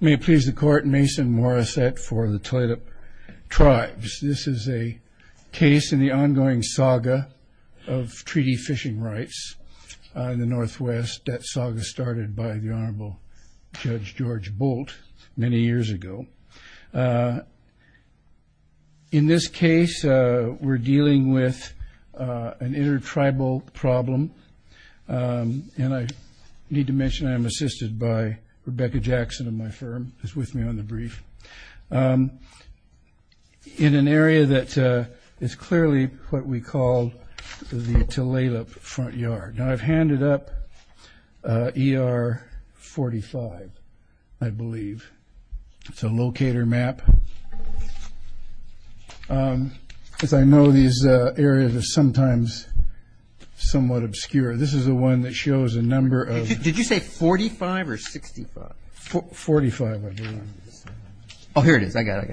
May it please the Court, Mason Morissette for the Talalip Tribes. This is a case in the ongoing saga of treaty fishing rights in the Northwest that saga started by the Honorable Judge George Bolt many years ago. In this case we're dealing with an intertribal problem and I need to mention I'm assisted by Rebecca Jackson of my firm who's with me on the brief. In an area that is clearly what we call the Talalip front yard. Now I've handed up ER 45 I believe. It's a locator map. As I know these areas are sometimes somewhat obscure. This is the one that shows a number of Did you say 45 or 65? 45 I believe. Oh here it is. I got it.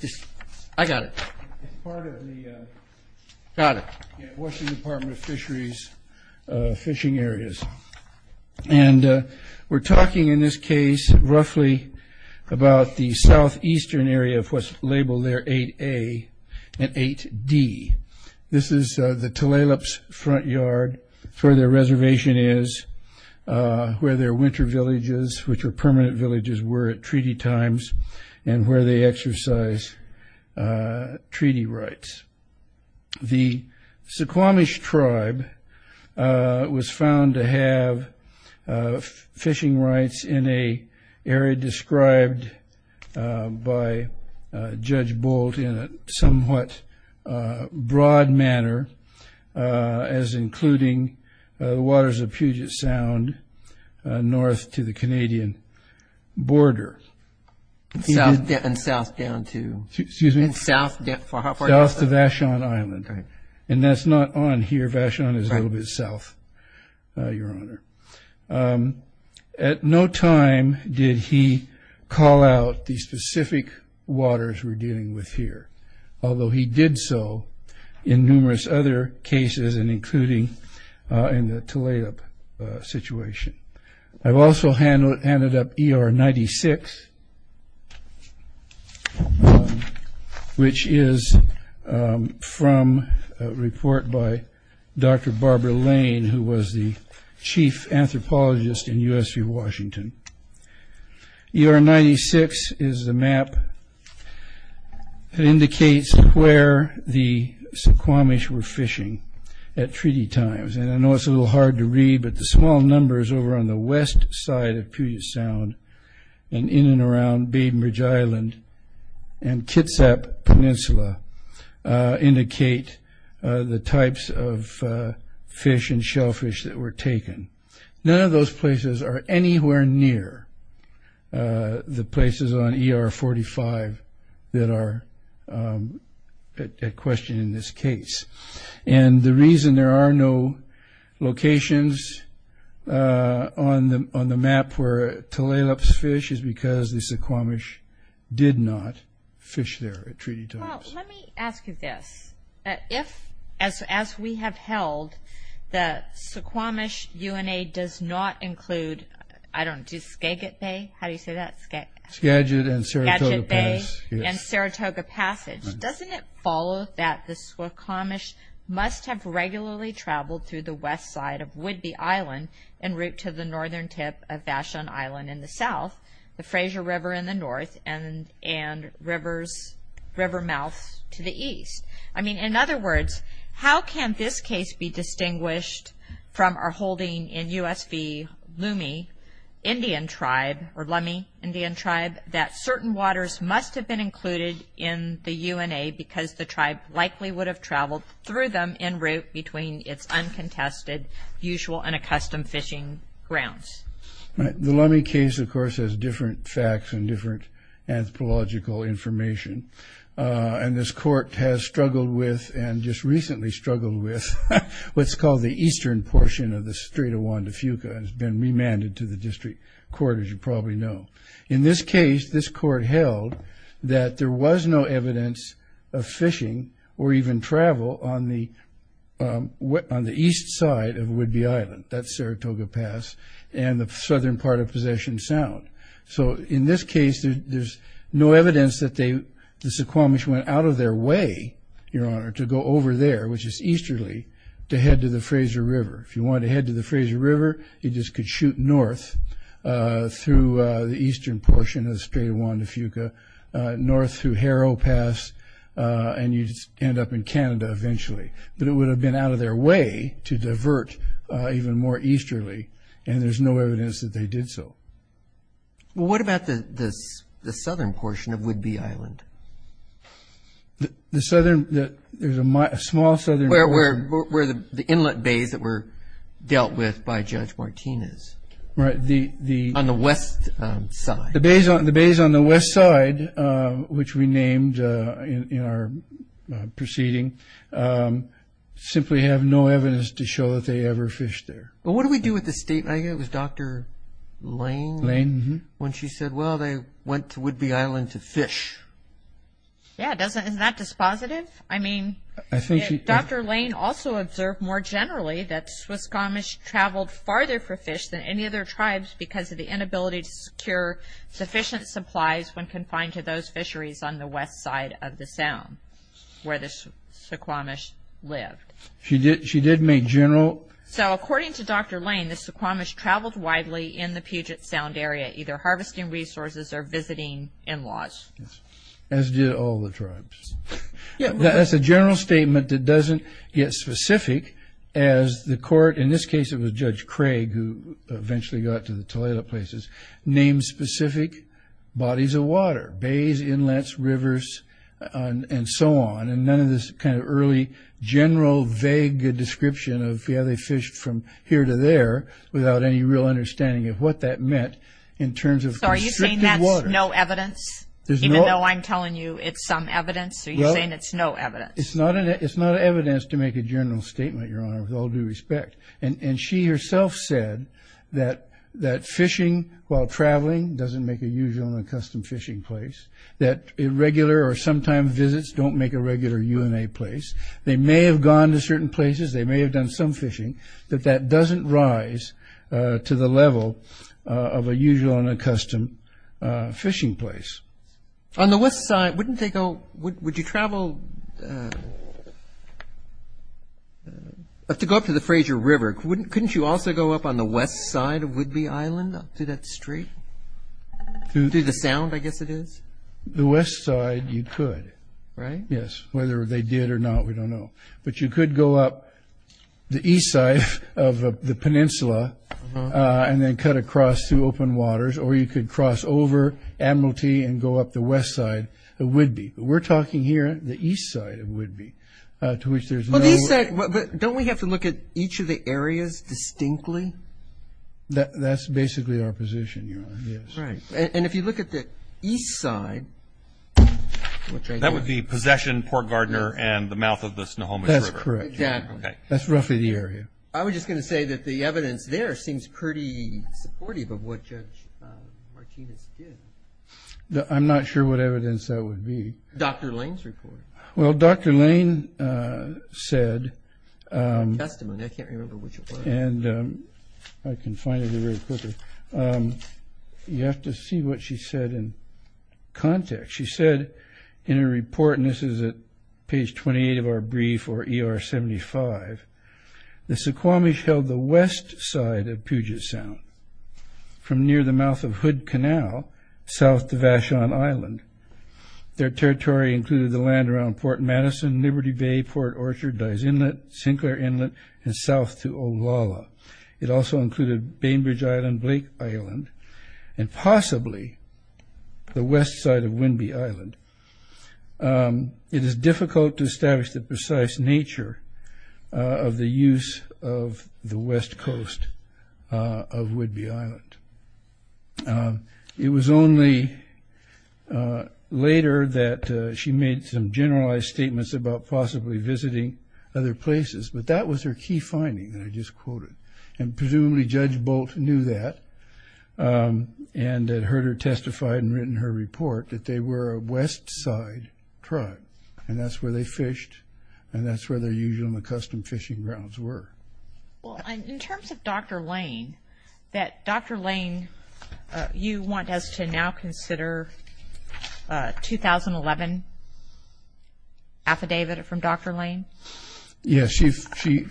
It's part of the Washington Department of Fisheries fishing areas. And we're talking in this case roughly about the southeastern area of what's labeled there 8A and 8D. This is the Talalip's front yard. Where their reservation is, where their winter villages, which are permanent villages, were at treaty times and where they exercise treaty rights. The Suquamish Tribe was found to have fishing rights in a area described by Judge Bolt in a somewhat broad manner as including the waters of Puget Sound north to the Canadian border. And south down to? Excuse me? South to Vashon Island. And that's not on here. Vashon is a little bit south. Your Honor. At no time did he call out the specific waters we're dealing with here. Although he did so in numerous other cases and including in the Talalip situation. I've also handed up ER 96. Which is from a report by Dr. Barbara Lane who was the chief anthropologist in U.S.V. Washington. ER 96 is the map that indicates where the Suquamish were fishing at treaty times. And I know it's a little hard to read but the small numbers over on the west side of Puget Sound and in and around Bainbridge Island and Kitsap Peninsula indicate the types of fish and shellfish that were taken. None of those places are anywhere near the places on ER 45 that are at question in this case. And the reason there are no locations on the map where Talalip's fish is because the Suquamish did not fish there at treaty times. Well, let me ask you this. As we have held, the Suquamish UNA does not follow that the Suquamish must have regularly traveled through the west side of Whidbey Island en route to the northern tip of Vashon Island in the south, the Frazier River in the north, and river mouth to the east. In other words, how can this case be included in the UNA because the tribe likely would have traveled through them en route between its uncontested usual and accustomed fishing grounds? The Lummi case, of course, has different facts and different anthropological information. And this court has struggled with and just recently struggled with what's called the eastern portion of the Strait of Juan de Fuca and has been that there was no evidence of fishing or even travel on the east side of Whidbey Island, that's Saratoga Pass, and the southern part of Possession Sound. So in this case, there's no evidence that the Suquamish went out of their way, Your Honor, to go over there, which is easterly, to head to the Frazier River. If you wanted to head to the Frazier River, you just could shoot north through the north through Harrow Pass and you'd end up in Canada eventually. But it would have been out of their way to divert even more easterly, and there's no evidence that they did so. Well, what about the southern portion of Whidbey Island? The southern, there's a small southern... Where the inlet bays that were dealt with by Judge Martinez. Right, the... On the west side. The bays on the west side, which we named in our proceeding, simply have no evidence to show that they ever fished there. Well, what do we do with the state? I think it was Dr. Lane, when she said, well, they went to Whidbey Island to fish. Yeah, isn't that dispositive? I mean, Dr. Lane also observed more generally that Suquamish traveled farther for fish than any other sufficient supplies when confined to those fisheries on the west side of the Sound, where the Suquamish lived. She did, she did make general... So, according to Dr. Lane, the Suquamish traveled widely in the Puget Sound area, either harvesting resources or visiting in-laws. As did all the tribes. That's a general statement that doesn't get specific as the court, in this case it was Judge Craig, who bodies of water, bays, inlets, rivers, and so on, and none of this kind of early, general, vague description of, yeah, they fished from here to there, without any real understanding of what that meant, in terms of constricted water. So are you saying that's no evidence? Even though I'm telling you it's some evidence? Are you saying it's no evidence? It's not evidence to make a general statement, Your Honor, with all due respect. And she herself said that fishing while traveling doesn't make a usual and a custom fishing place. That irregular or sometime visits don't make a regular UNA place. They may have gone to certain places, they may have done some fishing, but that doesn't rise to the level of a usual and a custom fishing place. On the west side, wouldn't they go, would you travel... To go up to the Fraser River, couldn't you also go up on the west side of Whidbey Island, up through that street? Through the Sound, I guess it is? The west side, you could. Right? Yes, whether they did or not, we don't know. But you could go up the east side of the peninsula and then cut across through open waters, or you could cross over Admiralty and go up the west side of Whidbey. But we're talking here the east side of Whidbey, to which there's no... But don't we have to look at each of the areas distinctly? That's basically our position, Your Honor, yes. Right. And if you look at the east side... That would be Possession, Port Gardner, and the mouth of the Snohomish River. That's correct. Exactly. That's roughly the area. I was just going to say that the evidence there seems pretty supportive of what Judge Martinez did. I'm not sure what evidence that would be. Dr. Lane's report. Well, Dr. Lane said... Testimony, I can't remember which it was. I can find it really quickly. You have to see what she said in context. She said in her report, and this is at page 28 of our brief, or ER 75, the Suquamish held the west side of Puget Sound, from near the mouth of Hood Canal, south to Vashon Island. Their territory included the land around Port Madison, Liberty Bay, Port Orchard, Dye's Inlet, Sinclair Inlet, and south to Olala. It also included Bainbridge Island, Blake Island, and possibly the west side of Whidbey Island. It is difficult to establish the precise nature of the use of the west coast of Whidbey Island. It was only later that she made some generalized statements about possibly visiting other places, but that was her key finding that I just quoted, and presumably Judge Bolt knew that and had heard her testify and written her report that they were a west side truck, and that's where they fished, and that's where their usual and accustomed fishing grounds were. Well, in terms of Dr. Lane, that Dr. Lane, you want us to now consider a 2011 affidavit from Dr. Lane? Yes.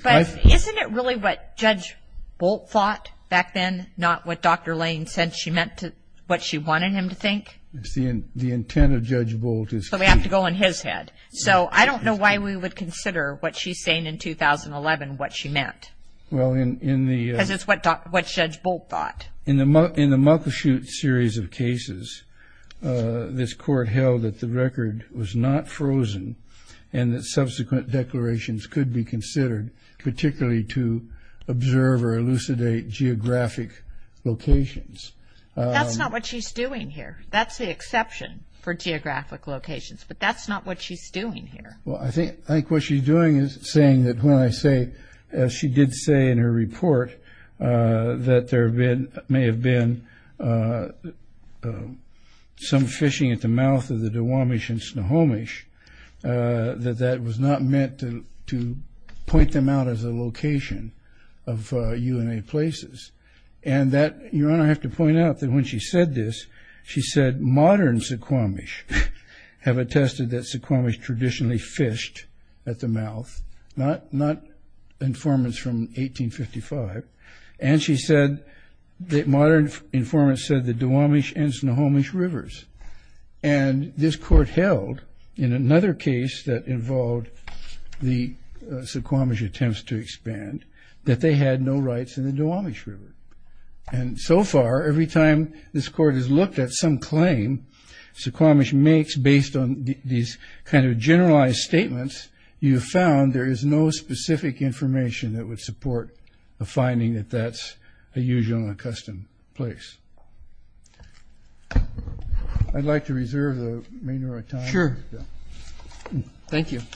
But isn't it really what Judge Bolt thought back then, not what Dr. Lane said she meant to, what she wanted him to think? The intent of Judge Bolt is key. So we have to go on his head. So I don't know why we would consider what she's saying in 2011, what she meant. Because it's what Judge Bolt thought. In the Muckleshoot series of cases, this Court held that the record was not frozen and that subsequent declarations could be considered, particularly to observe or elucidate geographic locations. That's not what she's doing here. That's the exception for geographic locations. But that's not what she's doing here. Well, I think what she's doing is saying that when I say, as she did say in her report, that there may have been some fishing at the mouth of the Duwamish and Snohomish, that that was not meant to point them out as a location of UNA places. Your Honor, I have to point out that when she said this, she said modern Suquamish have attested that Suquamish traditionally fished at the mouth, not informants from 1855. And she said that modern informants said the Duwamish and Snohomish rivers. And this Court held in another case that involved the Suquamish attempts to expand that they had no rights in the Duwamish River. And so far, every time this Court has looked at some claim Suquamish makes based on these kind of generalized statements, you've found there is no specific information that would support the finding that that's a usual and a custom place. I'd like to reserve the remainder of my time. Sure. Thank you. It's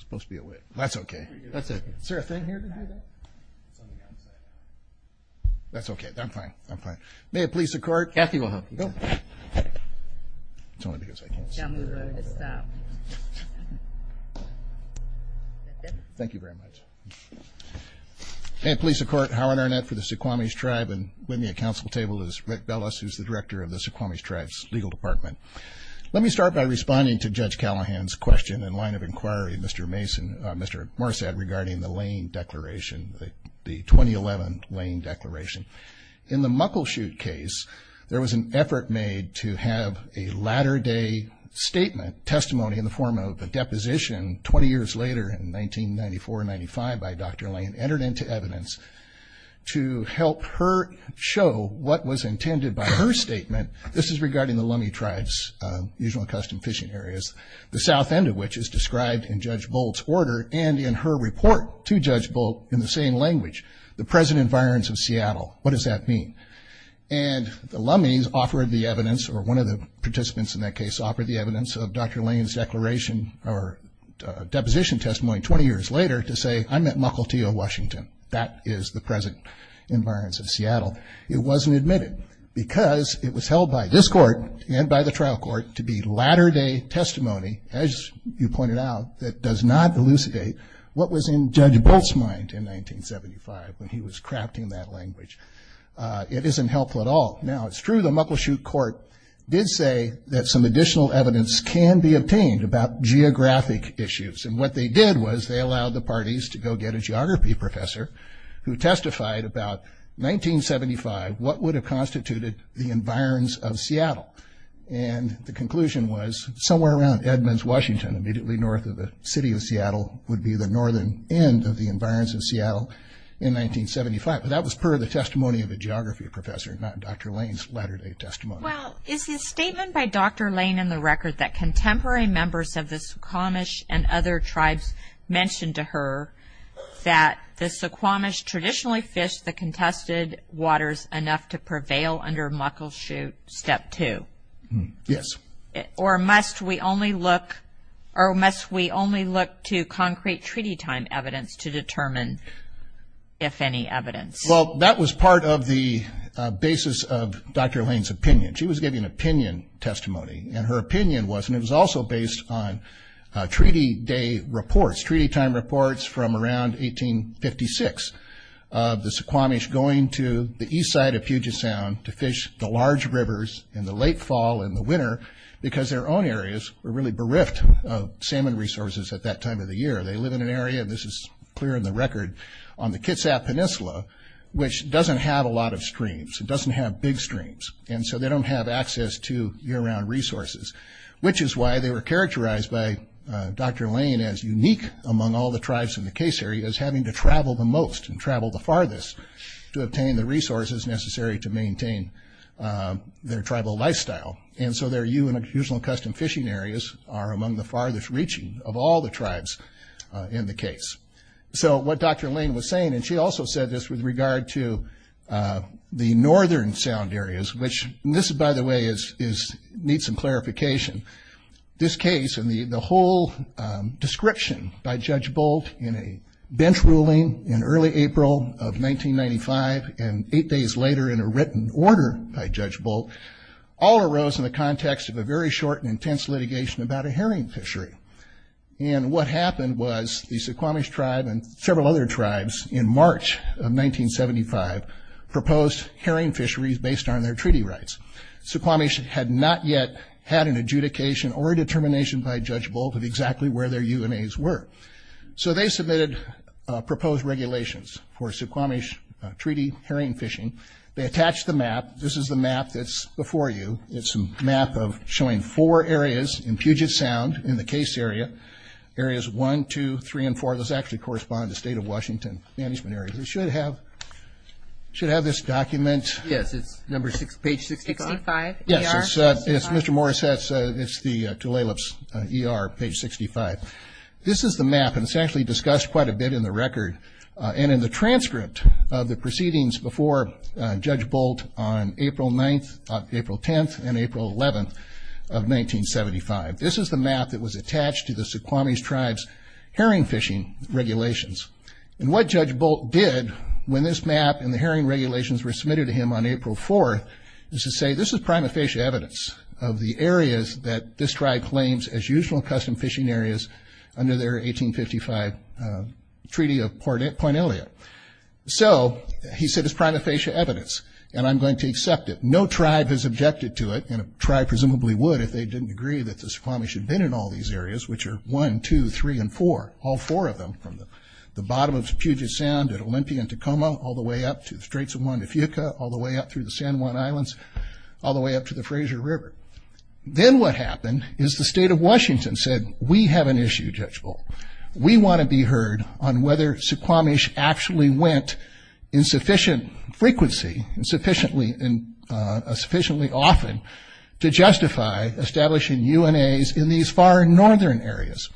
supposed to be a whip. That's okay. Is there a thing here to do that? That's okay. I'm fine. I'm fine. May it please the Court. Yes, Your Honor. It's only because I can't see. Don't move or I'm going to stop. That's it. Thank you very much. May it please the Court, Howard Arnett for the Suquamish Tribe. And with me at council table is Rick Bellis, who's the Director of the Suquamish Tribe's Legal Department. Let me start by responding to Judge Callahan's question and line of inquiry, Mr. Morsad, regarding the Lane Declaration, the 2011 Lane Declaration. In the Muckleshoot case, there was an effort made to have a latter-day statement, testimony in the form of a deposition 20 years later in 1994-95 by Dr. Lane entered into evidence to help her show what was intended by her statement. This is regarding the Lummi Tribes, usually accustomed fishing areas, the south end of which is described in Judge Boldt's order and in her report to Judge Boldt in the same language, the present environs of Seattle. What does that mean? And the Lummi's offered the evidence, or one of the participants in that case offered the evidence of Dr. Lane's declaration or deposition testimony 20 years later to say, I'm at Muckleshoot, Washington. That is the present environs of Seattle. It wasn't admitted because it was held by this court and by the trial court to be latter-day testimony, as you pointed out, that does not elucidate what was in Judge Boldt's mind in 1975 when he was crafting that language. It isn't helpful at all. Now, it's true the Muckleshoot court did say that some additional evidence can be obtained about geographic issues. And what they did was they allowed the parties to go get a geography professor who testified about 1975, what would have constituted the environs of Seattle. And the conclusion was somewhere around Edmonds, Washington, immediately north of the city of Seattle, would be the northern end of the environs of Seattle in 1975. But that was per the testimony of a geography professor, not Dr. Lane's latter-day testimony. Well, is the statement by Dr. Lane in the record that contemporary members of the Suquamish and other tribes mentioned to her that the Suquamish traditionally fished the contested waters enough to prevail under Muckleshoot Step 2? Yes. Or must we only look to concrete treaty time evidence to determine if any evidence? Well, that was part of the basis of Dr. Lane's opinion. She was giving opinion testimony, and her opinion was, and it was also based on treaty day reports, treaty time reports from around 1856 of the Suquamish going to the east side of Puget Sound to fish the large rivers in the late fall and the winter because their own areas were really bereft of salmon resources at that time of the year. They live in an area, and this is clear in the record, on the Kitsap Peninsula, which doesn't have a lot of streams. It doesn't have big streams. And so they don't have access to year-round resources, which is why they were characterized by Dr. Lane as unique among all the tribes in the case area as having to travel the most and travel the farthest to obtain the resources necessary to maintain their tribal lifestyle. And so their usual and custom fishing areas are among the farthest reaching of all the tribes in the case. So what Dr. Lane was saying, and she also said this with regard to the northern sound areas, which this, by the way, needs some clarification. This case and the whole description by Judge Bolt in a bench ruling in early April of 1995 and eight days later in a written order by Judge Bolt all arose in the context of a very short and intense litigation about a herring fishery. And what happened was the Suquamish tribe and several other tribes in March of 1975 proposed herring fisheries based on their treaty rights. Suquamish had not yet had an adjudication or a determination by Judge Bolt of exactly where their UNAs were. So they submitted proposed regulations for Suquamish treaty herring fishing. They attached the map. This is the map that's before you. It's a map of showing four areas in Puget Sound in the case area, areas one, two, three, and four. Those actually correspond to state of Washington management areas. It should have this document. Yes, it's page 65. Yes, it's Mr. Morrisett's. It's the Tulalip's ER, page 65. This is the map, and it's actually discussed quite a bit in the record and in the transcript of the proceedings before Judge Bolt on April 10th and April 11th of 1975. This is the map that was attached to the Suquamish tribe's herring fishing regulations. And what Judge Bolt did when this map and the herring regulations were submitted to him on April 4th is to say this is prima facie evidence of the areas that this tribe claims as usual custom fishing areas under their 1855 Treaty of Point Elliot. So he said it's prima facie evidence, and I'm going to accept it. No tribe has objected to it, and a tribe presumably would if they didn't agree that the Suquamish had been in all these areas, which are 1, 2, 3, and 4, all four of them, from the bottom of Puget Sound at Olympia and Tacoma all the way up to the Straits of Juan de Fuca, all the way up through the San Juan Islands, all the way up to the Fraser River. Then what happened is the state of Washington said we have an issue, Judge Bolt. We want to be heard on whether Suquamish actually went in sufficient frequency and sufficiently often to justify establishing UNAs in these far northern areas.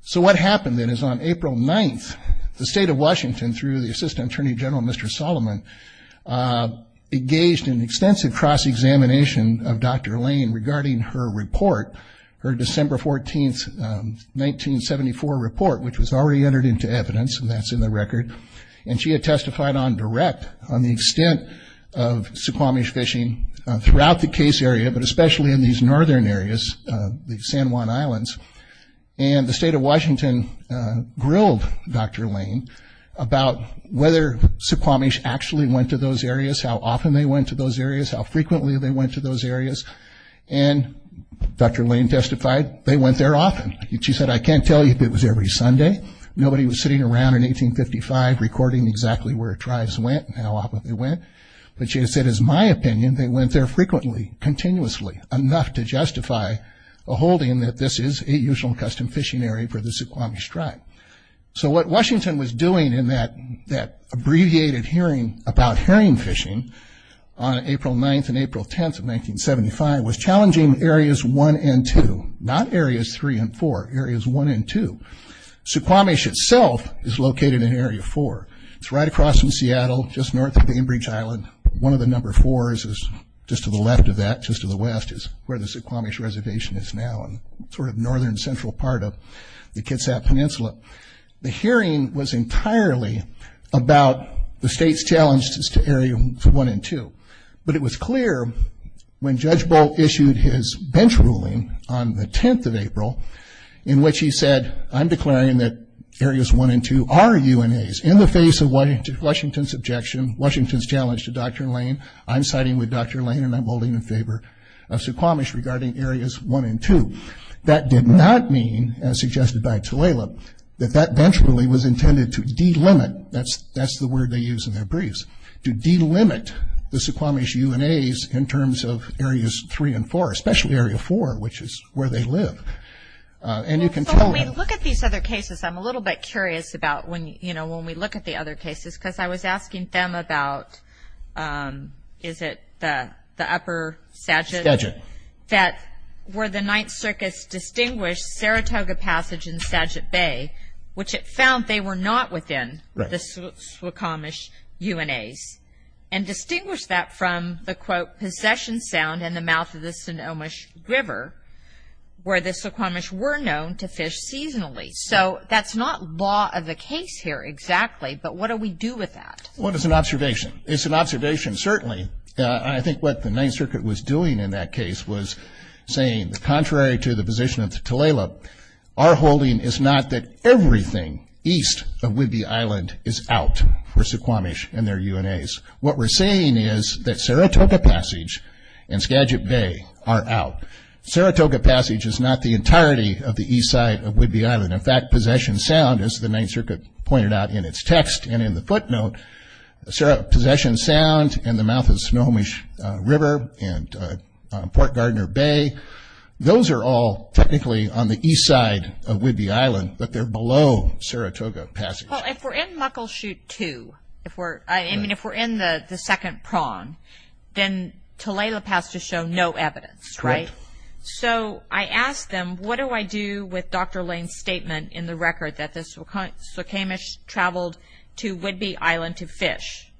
So what happened then is on April 9th, the state of Washington, through the Assistant Attorney General, Mr. Solomon, engaged in extensive cross-examination of Dr. Lane regarding her report, her December 14th, 1974 report, which was already entered into evidence, and that's in the record. She had testified on direct on the extent of Suquamish fishing throughout the case area, but especially in these northern areas, the San Juan Islands. The state of Washington grilled Dr. Lane about whether Suquamish actually went to those areas, how often they went to those areas, how frequently they went to those areas. Dr. Lane testified they went there often. She said I can't tell you if it was every Sunday. Nobody was sitting around in 1855 recording exactly where tribes went and how often they went. But she said, as my opinion, they went there frequently, continuously, enough to justify a holding that this is a usual custom fishing area for the Suquamish tribe. So what Washington was doing in that abbreviated hearing about herring fishing on April 9th and April 10th of 1975 was challenging areas 1 and 2, not areas 3 and 4, areas 1 and 2. Suquamish itself is located in area 4. It's right across from Seattle, just north of Bainbridge Island. One of the number 4s is just to the left of that, just to the west, is where the Suquamish Reservation is now, sort of northern central part of the Kitsap Peninsula. The herring was entirely about the state's challenges to area 1 and 2. But it was clear when Judge Bolt issued his bench ruling on the 10th of April in which he said, I'm declaring that areas 1 and 2 are UNAs. In the face of Washington's objection, Washington's challenge to Dr. Lane, I'm siding with Dr. Lane and I'm holding in favor of Suquamish regarding areas 1 and 2. That did not mean, as suggested by Tulalip, that that bench ruling was intended to delimit, that's the word they use in their briefs, to delimit the Suquamish UNAs in terms of areas 3 and 4, especially area 4, which is where they live. And you can tell- When we look at these other cases, I'm a little bit curious about when we look at the other cases, because I was asking them about, is it the upper Sagitt- Sagitt. That where the Ninth Circus distinguished Saratoga Passage and Sagitt Bay, which it found they were not within the Suquamish UNAs, and distinguished that from the, quote, and the mouth of the Sonomish River, where the Suquamish were known to fish seasonally. So that's not law of the case here exactly, but what do we do with that? Well, it's an observation. It's an observation, certainly. I think what the Ninth Circuit was doing in that case was saying, contrary to the position of Tulalip, our holding is not that everything east of Whidbey Island is out for Suquamish and their UNAs. What we're saying is that Saratoga Passage and Sagitt Bay are out. Saratoga Passage is not the entirety of the east side of Whidbey Island. In fact, Possession Sound, as the Ninth Circuit pointed out in its text and in the footnote, Possession Sound and the mouth of Sonomish River and Port Gardner Bay, those are all technically on the east side of Whidbey Island, but they're below Saratoga Passage. Well, if we're in Muckleshoot II, I mean, if we're in the second prong, then Tulalip has to show no evidence, right? Correct. So I asked them, what do I do with Dr. Lane's statement in the record that the Suquamish traveled to Whidbey Island to fish?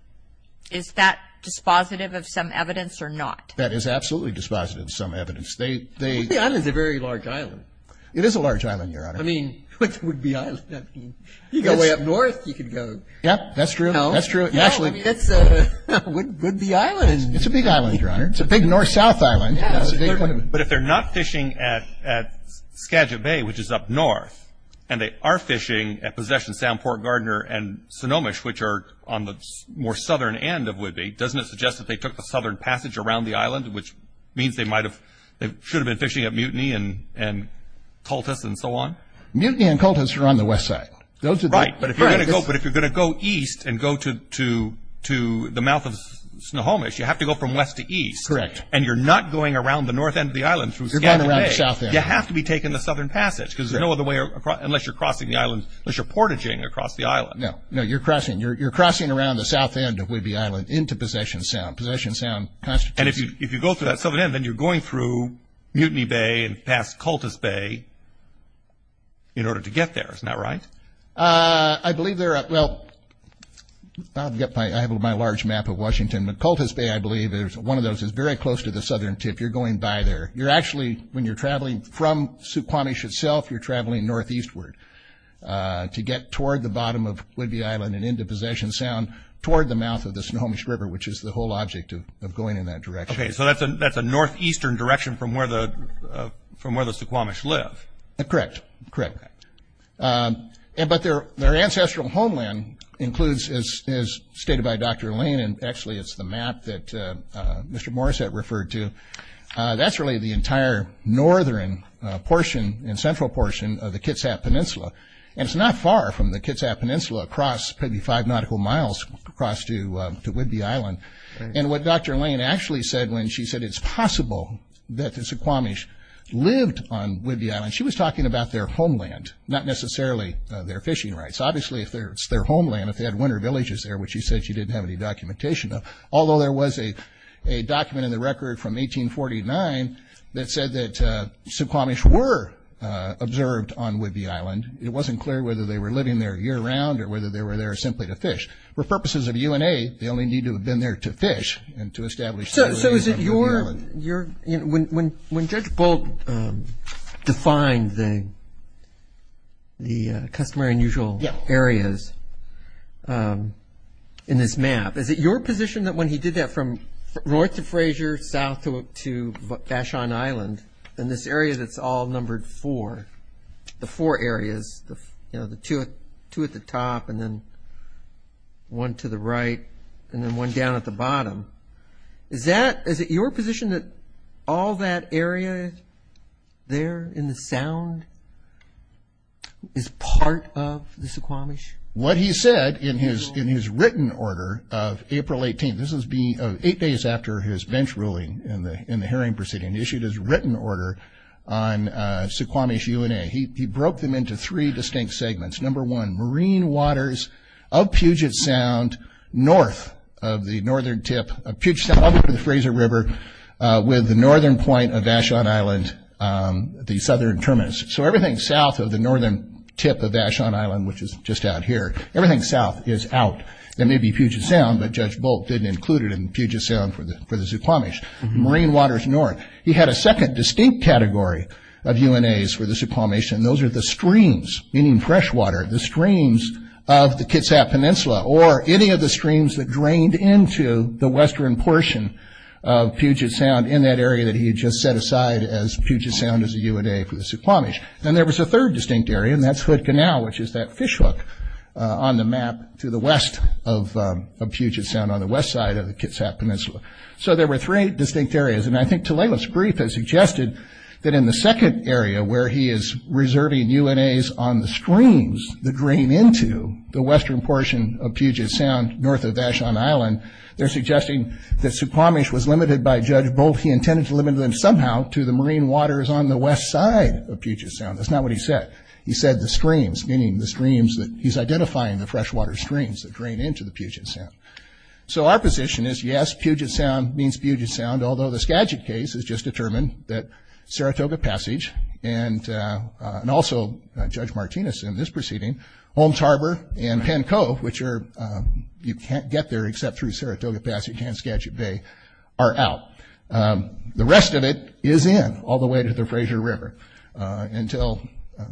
Is that dispositive of some evidence or not? That is absolutely dispositive of some evidence. Whidbey Island is a very large island. It is a large island, Your Honor. I mean, Whidbey Island, I mean, you go way up north, you could go. Yeah, that's true. That's true. Whidbey Island. It's a big island, Your Honor. It's a big north-south island. But if they're not fishing at Skagit Bay, which is up north, and they are fishing at Possession Sound, Port Gardner and Sonomish, which are on the more southern end of Whidbey, doesn't it suggest that they took the southern passage around the island, which means they should have been fishing at Mutiny and Cultus and so on? Mutiny and Cultus are on the west side. Right. But if you're going to go east and go to the mouth of Sonomish, you have to go from west to east. Correct. And you're not going around the north end of the island through Skagit Bay. You're going around the south end. You have to be taking the southern passage, because there's no other way unless you're crossing the island, unless you're portaging across the island. No, you're crossing around the south end of Whidbey Island into Possession Sound. And if you go to that southern end, then you're going through Mutiny Bay and past Cultus Bay in order to get there. Isn't that right? I believe there are – well, I have my large map of Washington. But Cultus Bay, I believe, is one of those. It's very close to the southern tip. You're going by there. You're actually – when you're traveling from Suquamish itself, you're traveling northeastward to get toward the bottom of Whidbey Island and into Possession Sound toward the mouth of the Sonomish River, which is the whole object of going in that direction. Okay, so that's a northeastern direction from where the Suquamish live. Correct, correct. But their ancestral homeland includes, as stated by Dr. Lane, and actually it's the map that Mr. Morissette referred to, that's really the entire northern portion and central portion of the Kitsap Peninsula. And it's not far from the Kitsap Peninsula, across maybe five nautical miles across to Whidbey Island. And what Dr. Lane actually said when she said it's possible that the Suquamish lived on Whidbey Island, she was talking about their homeland, not necessarily their fishing rights. Obviously, if it's their homeland, if they had winter villages there, which she said she didn't have any documentation of, although there was a document in the record from 1849 that said that Suquamish were observed on Whidbey Island. It wasn't clear whether they were living there year-round or whether they were there simply to fish. For purposes of UNA, they only need to have been there to fish and to establish their living on Whidbey Island. So when Judge Bolt defined the customary and usual areas in this map, is it your position that when he did that from north to Fraser, south to Vashon Island, in this area that's all numbered four, the four areas, the two at the top and then one to the right and then one down at the bottom, is it your position that all that area there in the sound is part of the Suquamish? What he said in his written order of April 18th, this was eight days after his bench ruling in the hearing proceeding, he issued his written order on Suquamish UNA. He broke them into three distinct segments. Number one, marine waters of Puget Sound north of the northern tip of Puget Sound, up over the Fraser River with the northern point of Vashon Island, the southern terminus. So everything south of the northern tip of Vashon Island, which is just out here, everything south is out. There may be Puget Sound, but Judge Bolt didn't include it in Puget Sound for the Suquamish. Marine waters north. He had a second distinct category of UNAs for the Suquamish, and those are the streams, meaning fresh water, the streams of the Kitsap Peninsula or any of the streams that drained into the western portion of Puget Sound in that area that he had just set aside as Puget Sound as a UNA for the Suquamish. Then there was a third distinct area, and that's Hood Canal, which is that fishhook on the map to the west of Puget Sound on the west side of the Kitsap Peninsula. So there were three distinct areas, and I think Talala's brief has suggested that in the second area where he is reserving UNAs on the streams that drain into the western portion of Puget Sound north of Vashon Island, they're suggesting that Suquamish was limited by Judge Bolt. He intended to limit them somehow to the marine waters on the west side of Puget Sound. That's not what he said. He said the streams, meaning the streams that he's identifying, the freshwater streams that drain into the Puget Sound. So our position is yes, Puget Sound means Puget Sound, although the Skagit case has just determined that Saratoga Passage and also Judge Martinez in this proceeding, Holmes Harbor and Penn Cove, which you can't get there except through Saratoga Passage and Skagit Bay, are out. The rest of it is in, all the way to the Fraser River until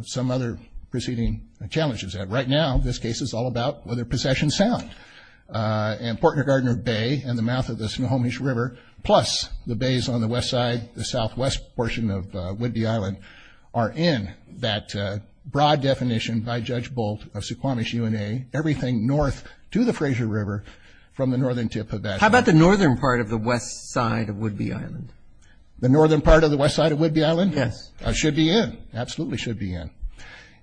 some other proceeding challenges that. Right now, this case is all about whether Possession Sound and Portnagardner Bay and the mouth of the Suquamish River, plus the bays on the west side, the southwest portion of Whidbey Island, are in that broad definition by Judge Bolt of Suquamish UNA, everything north to the Fraser River from the northern tip of Vashon. How about the northern part of the west side of Whidbey Island? The northern part of the west side of Whidbey Island? Yes. Should be in. Absolutely should be in.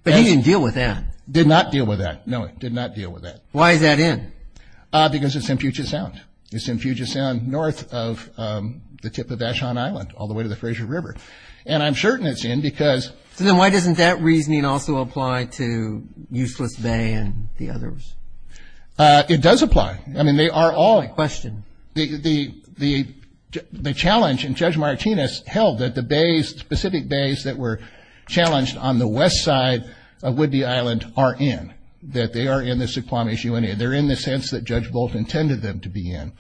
But he didn't deal with that. Did not deal with that. No, he did not deal with that. Why is that in? Because it's in Puget Sound. It's in Puget Sound, north of the tip of Vashon Island, all the way to the Fraser River. And I'm certain it's in because. So then why doesn't that reasoning also apply to Useless Bay and the others? It does apply. I mean, they are all. Answer my question. The challenge, and Judge Martinez held that the bays, specific bays that were challenged on the west side of Whidbey Island are in, that they are in the Suquamish UNA. They're in the sense that Judge Bolt intended them to be in.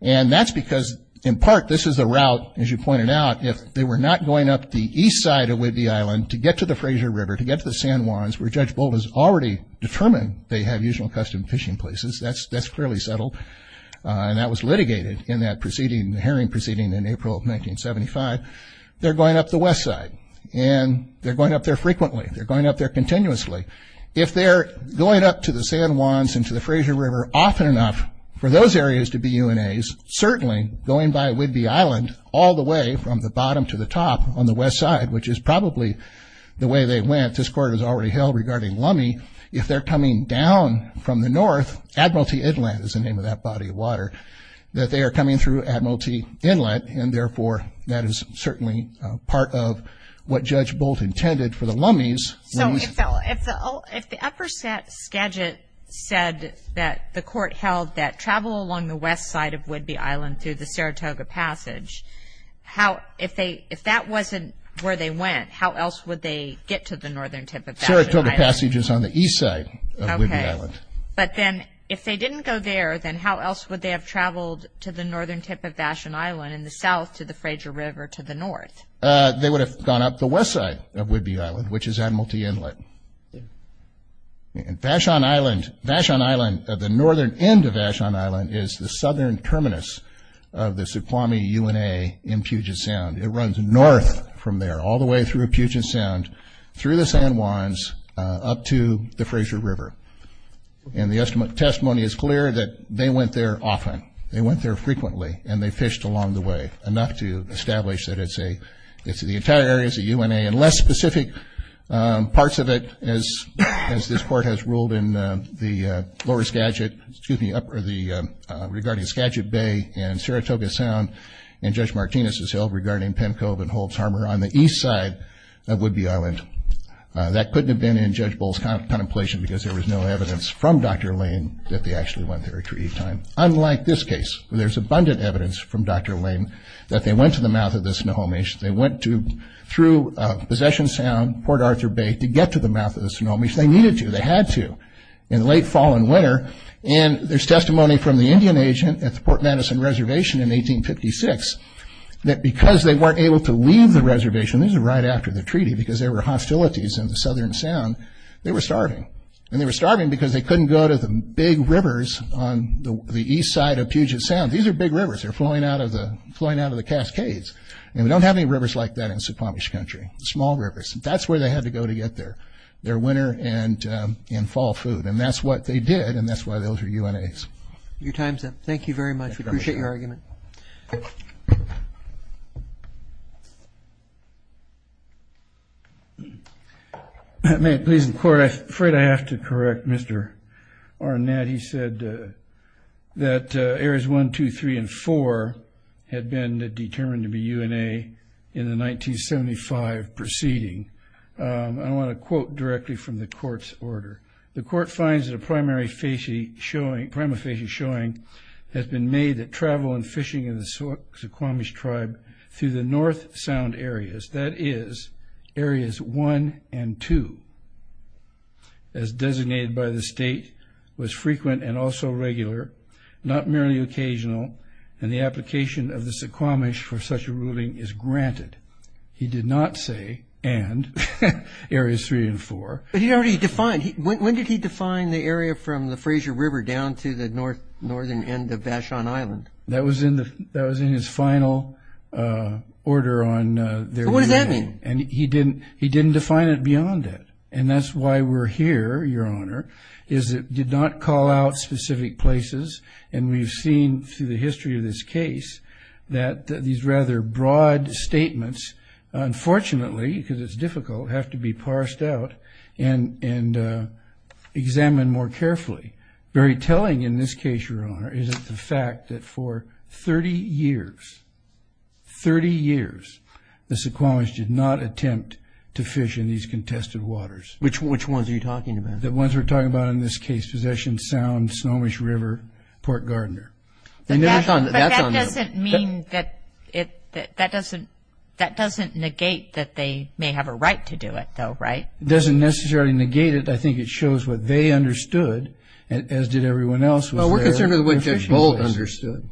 And that's because, in part, this is a route, as you pointed out, if they were not going up the east side of Whidbey Island to get to the Fraser River, to get to the San Juans, where Judge Bolt has already determined they have usual custom fishing places. That's clearly settled. And that was litigated in that proceeding, the herring proceeding in April of 1975. They're going up the west side. And they're going up there frequently. They're going up there continuously. If they're going up to the San Juans and to the Fraser River often enough, for those areas to be UNAs, certainly going by Whidbey Island all the way from the bottom to the top on the west side, which is probably the way they went, this Court has already held regarding Lummi, if they're coming down from the north, Admiralty Inlet is the name of that body of water, that they are coming through Admiralty Inlet. And, therefore, that is certainly part of what Judge Bolt intended for the Lummi's. So if the upper set Skagit said that the Court held that travel along the west side of Whidbey Island through the Saratoga Passage, if that wasn't where they went, how else would they get to the northern tip of Vashon Island? Saratoga Passage is on the east side of Whidbey Island. Okay. But then if they didn't go there, then how else would they have traveled to the northern tip of Vashon Island and the south to the Fraser River to the north? They would have gone up the west side of Whidbey Island, which is Admiralty Inlet. And Vashon Island, the northern end of Vashon Island, is the southern terminus of the Suquamish UNA in Puget Sound. It runs north from there, all the way through Puget Sound, through the San Juans, up to the Fraser River. And the testimony is clear that they went there often. They went there frequently, and they fished along the way, enough to establish that it's the entire area is a UNA, and less specific parts of it, as this court has ruled, regarding Skagit Bay and Saratoga Sound, and Judge Martinez's hill regarding Pencove and Holtz Harbor, on the east side of Whidbey Island. That couldn't have been in Judge Bull's contemplation because there was no evidence from Dr. Lane that they actually went there at any time. Unlike this case, where there's abundant evidence from Dr. Lane that they went to the mouth of the Snohomish, they went through Possession Sound, Port Arthur Bay, to get to the mouth of the Snohomish. They needed to, they had to, in late fall and winter. And there's testimony from the Indian agent at the Port Madison Reservation in 1856 that because they weren't able to leave the reservation, this is right after the treaty, because there were hostilities in the southern sound, they were starving. And they were starving because they couldn't go to the big rivers on the east side of Puget Sound. These are big rivers. They're flowing out of the Cascades. And we don't have any rivers like that in Snohomish country, small rivers. That's where they had to go to get their winter and fall food. And that's what they did, and that's why those are UNAs. Your time's up. Thank you very much. We appreciate your argument. May it please the Court. I'm afraid I have to correct Mr. Arnett. He said that areas one, two, three, and four had been determined to be UNA in the 1975 proceeding. I want to quote directly from the Court's order. The Court finds that a primary facie showing, has been made that travel and fishing in the Snohomish tribe through the north sound areas, that is, areas one and two, as designated by the state, was frequent and also regular, not merely occasional, and the application of the Suquamish for such a ruling is granted. He did not say and, areas three and four. But he already defined. When did he define the area from the Fraser River down to the northern end of Vashon Island? That was in his final order on their UNA. What does that mean? He didn't define it beyond it, and that's why we're here, Your Honor, is it did not call out specific places, and we've seen through the history of this case that these rather broad statements, unfortunately, because it's difficult, have to be parsed out and examined more carefully. Very telling in this case, Your Honor, is the fact that for 30 years, 30 years, the Suquamish did not attempt to fish in these contested waters. Which ones are you talking about? The ones we're talking about in this case, Possession Sound, Snohomish River, Port Gardner. But that doesn't negate that they may have a right to do it, though, right? It doesn't necessarily negate it. I think it shows what they understood, as did everyone else who was there. Well, we're concerned with what Judge Bold understood.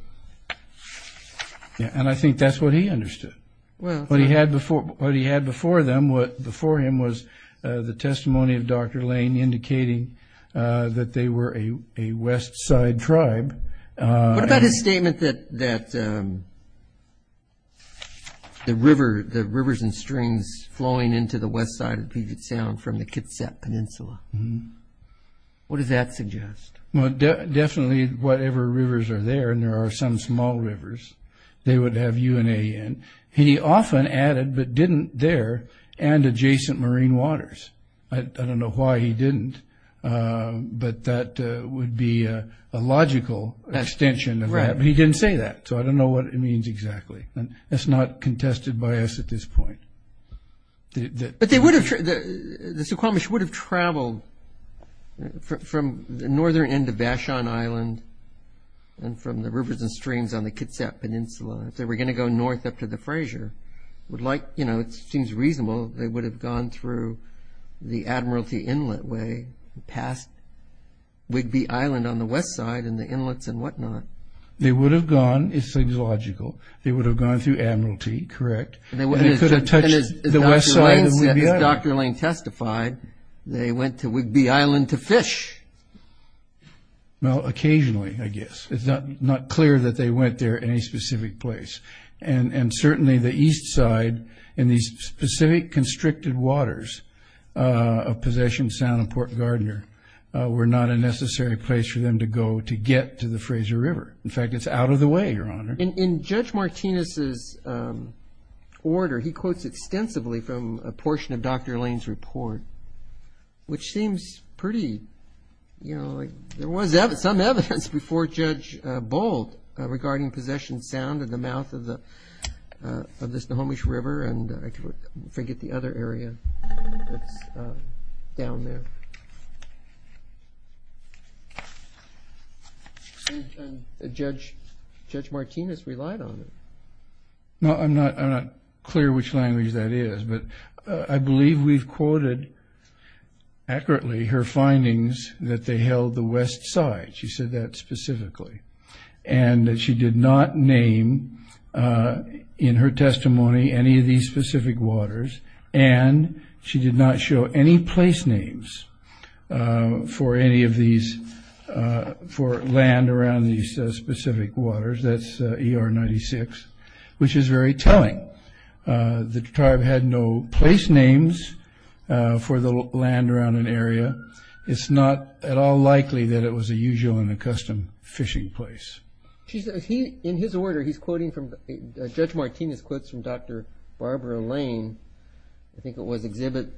And I think that's what he understood. What he had before them, what before him, was the testimony of Dr. Lane indicating that they were a west side tribe. What about his statement that the rivers and streams flowing into the west side would be the sound from the Kitsap Peninsula? What does that suggest? Well, definitely whatever rivers are there, and there are some small rivers, they would have UNA in. And he often added, but didn't there, and adjacent marine waters. I don't know why he didn't, but that would be a logical extension of that. Right. But he didn't say that, so I don't know what it means exactly. That's not contested by us at this point. But the Suquamish would have traveled from the northern end of Vashon Island and from the rivers and streams on the Kitsap Peninsula. If they were going to go north up to the Fraser, it seems reasonable, they would have gone through the Admiralty Inlet way, past Whigby Island on the west side and the inlets and whatnot. They would have gone, it's logical, they would have gone through Admiralty, correct. And they could have touched the west side of Whigby Island. As Dr. Lane testified, they went to Whigby Island to fish. Well, occasionally, I guess. It's not clear that they went there in any specific place. And certainly the east side in these specific constricted waters of possession, Sound and Port Gardner, were not a necessary place for them to go to get to the Fraser River. In fact, it's out of the way, Your Honor. In Judge Martinez's order, he quotes extensively from a portion of Dr. Lane's report, which seems pretty, you know, like there was some evidence before Judge Bold regarding possession sound at the mouth of the Snohomish River, and I forget the other area that's down there. Judge Martinez relied on it. No, I'm not clear which language that is, but I believe we've quoted accurately her findings that they held the west side. She said that specifically. And that she did not name in her testimony any of these specific waters, and she did not show any place names for any of these, for land around these specific waters. That's ER 96, which is very telling. The tribe had no place names for the land around an area. It's not at all likely that it was a usual and accustomed fishing place. In his order, Judge Martinez quotes from Dr. Barbara Lane, I think it was exhibit,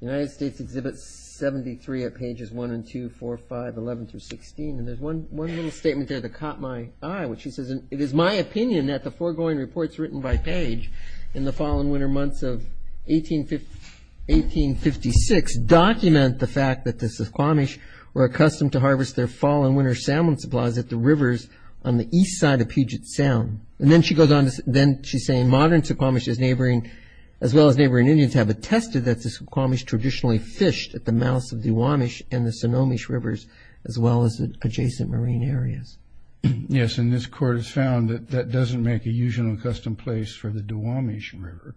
United States exhibit 73 at pages 1 and 2, 4, 5, 11 through 16, and there's one little statement there that caught my eye, which she says, it is my opinion that the foregoing reports written by Page in the fall and winter months of 1856 document the fact that the Snohomish were accustomed to harvest their fall and winter salmon supplies at the rivers on the east side of Puget Sound. And then she goes on to say, modern Suquamish as well as neighboring Indians have attested that the Suquamish traditionally fished at the mouths of the Duwamish and the Snohomish Rivers as well as adjacent marine areas. Yes, and this court has found that that doesn't make a usual and accustomed place for the Duwamish River,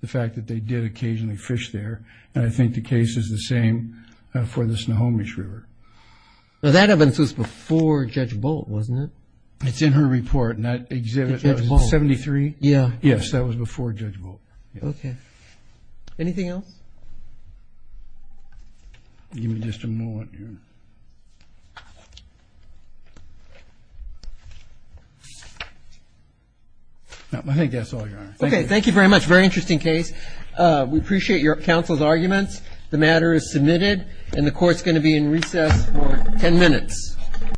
the fact that they did occasionally fish there, and I think the case is the same for the Snohomish River. Now, that evidence was before Judge Bolt, wasn't it? It's in her report, and that exhibit, was it 73? Yeah. Yes, that was before Judge Bolt. Okay. Anything else? Give me just a moment here. I think that's all, Your Honor. Okay, thank you very much. Very interesting case. We appreciate your counsel's arguments. The matter is submitted, and the court's going to be in recess for ten minutes.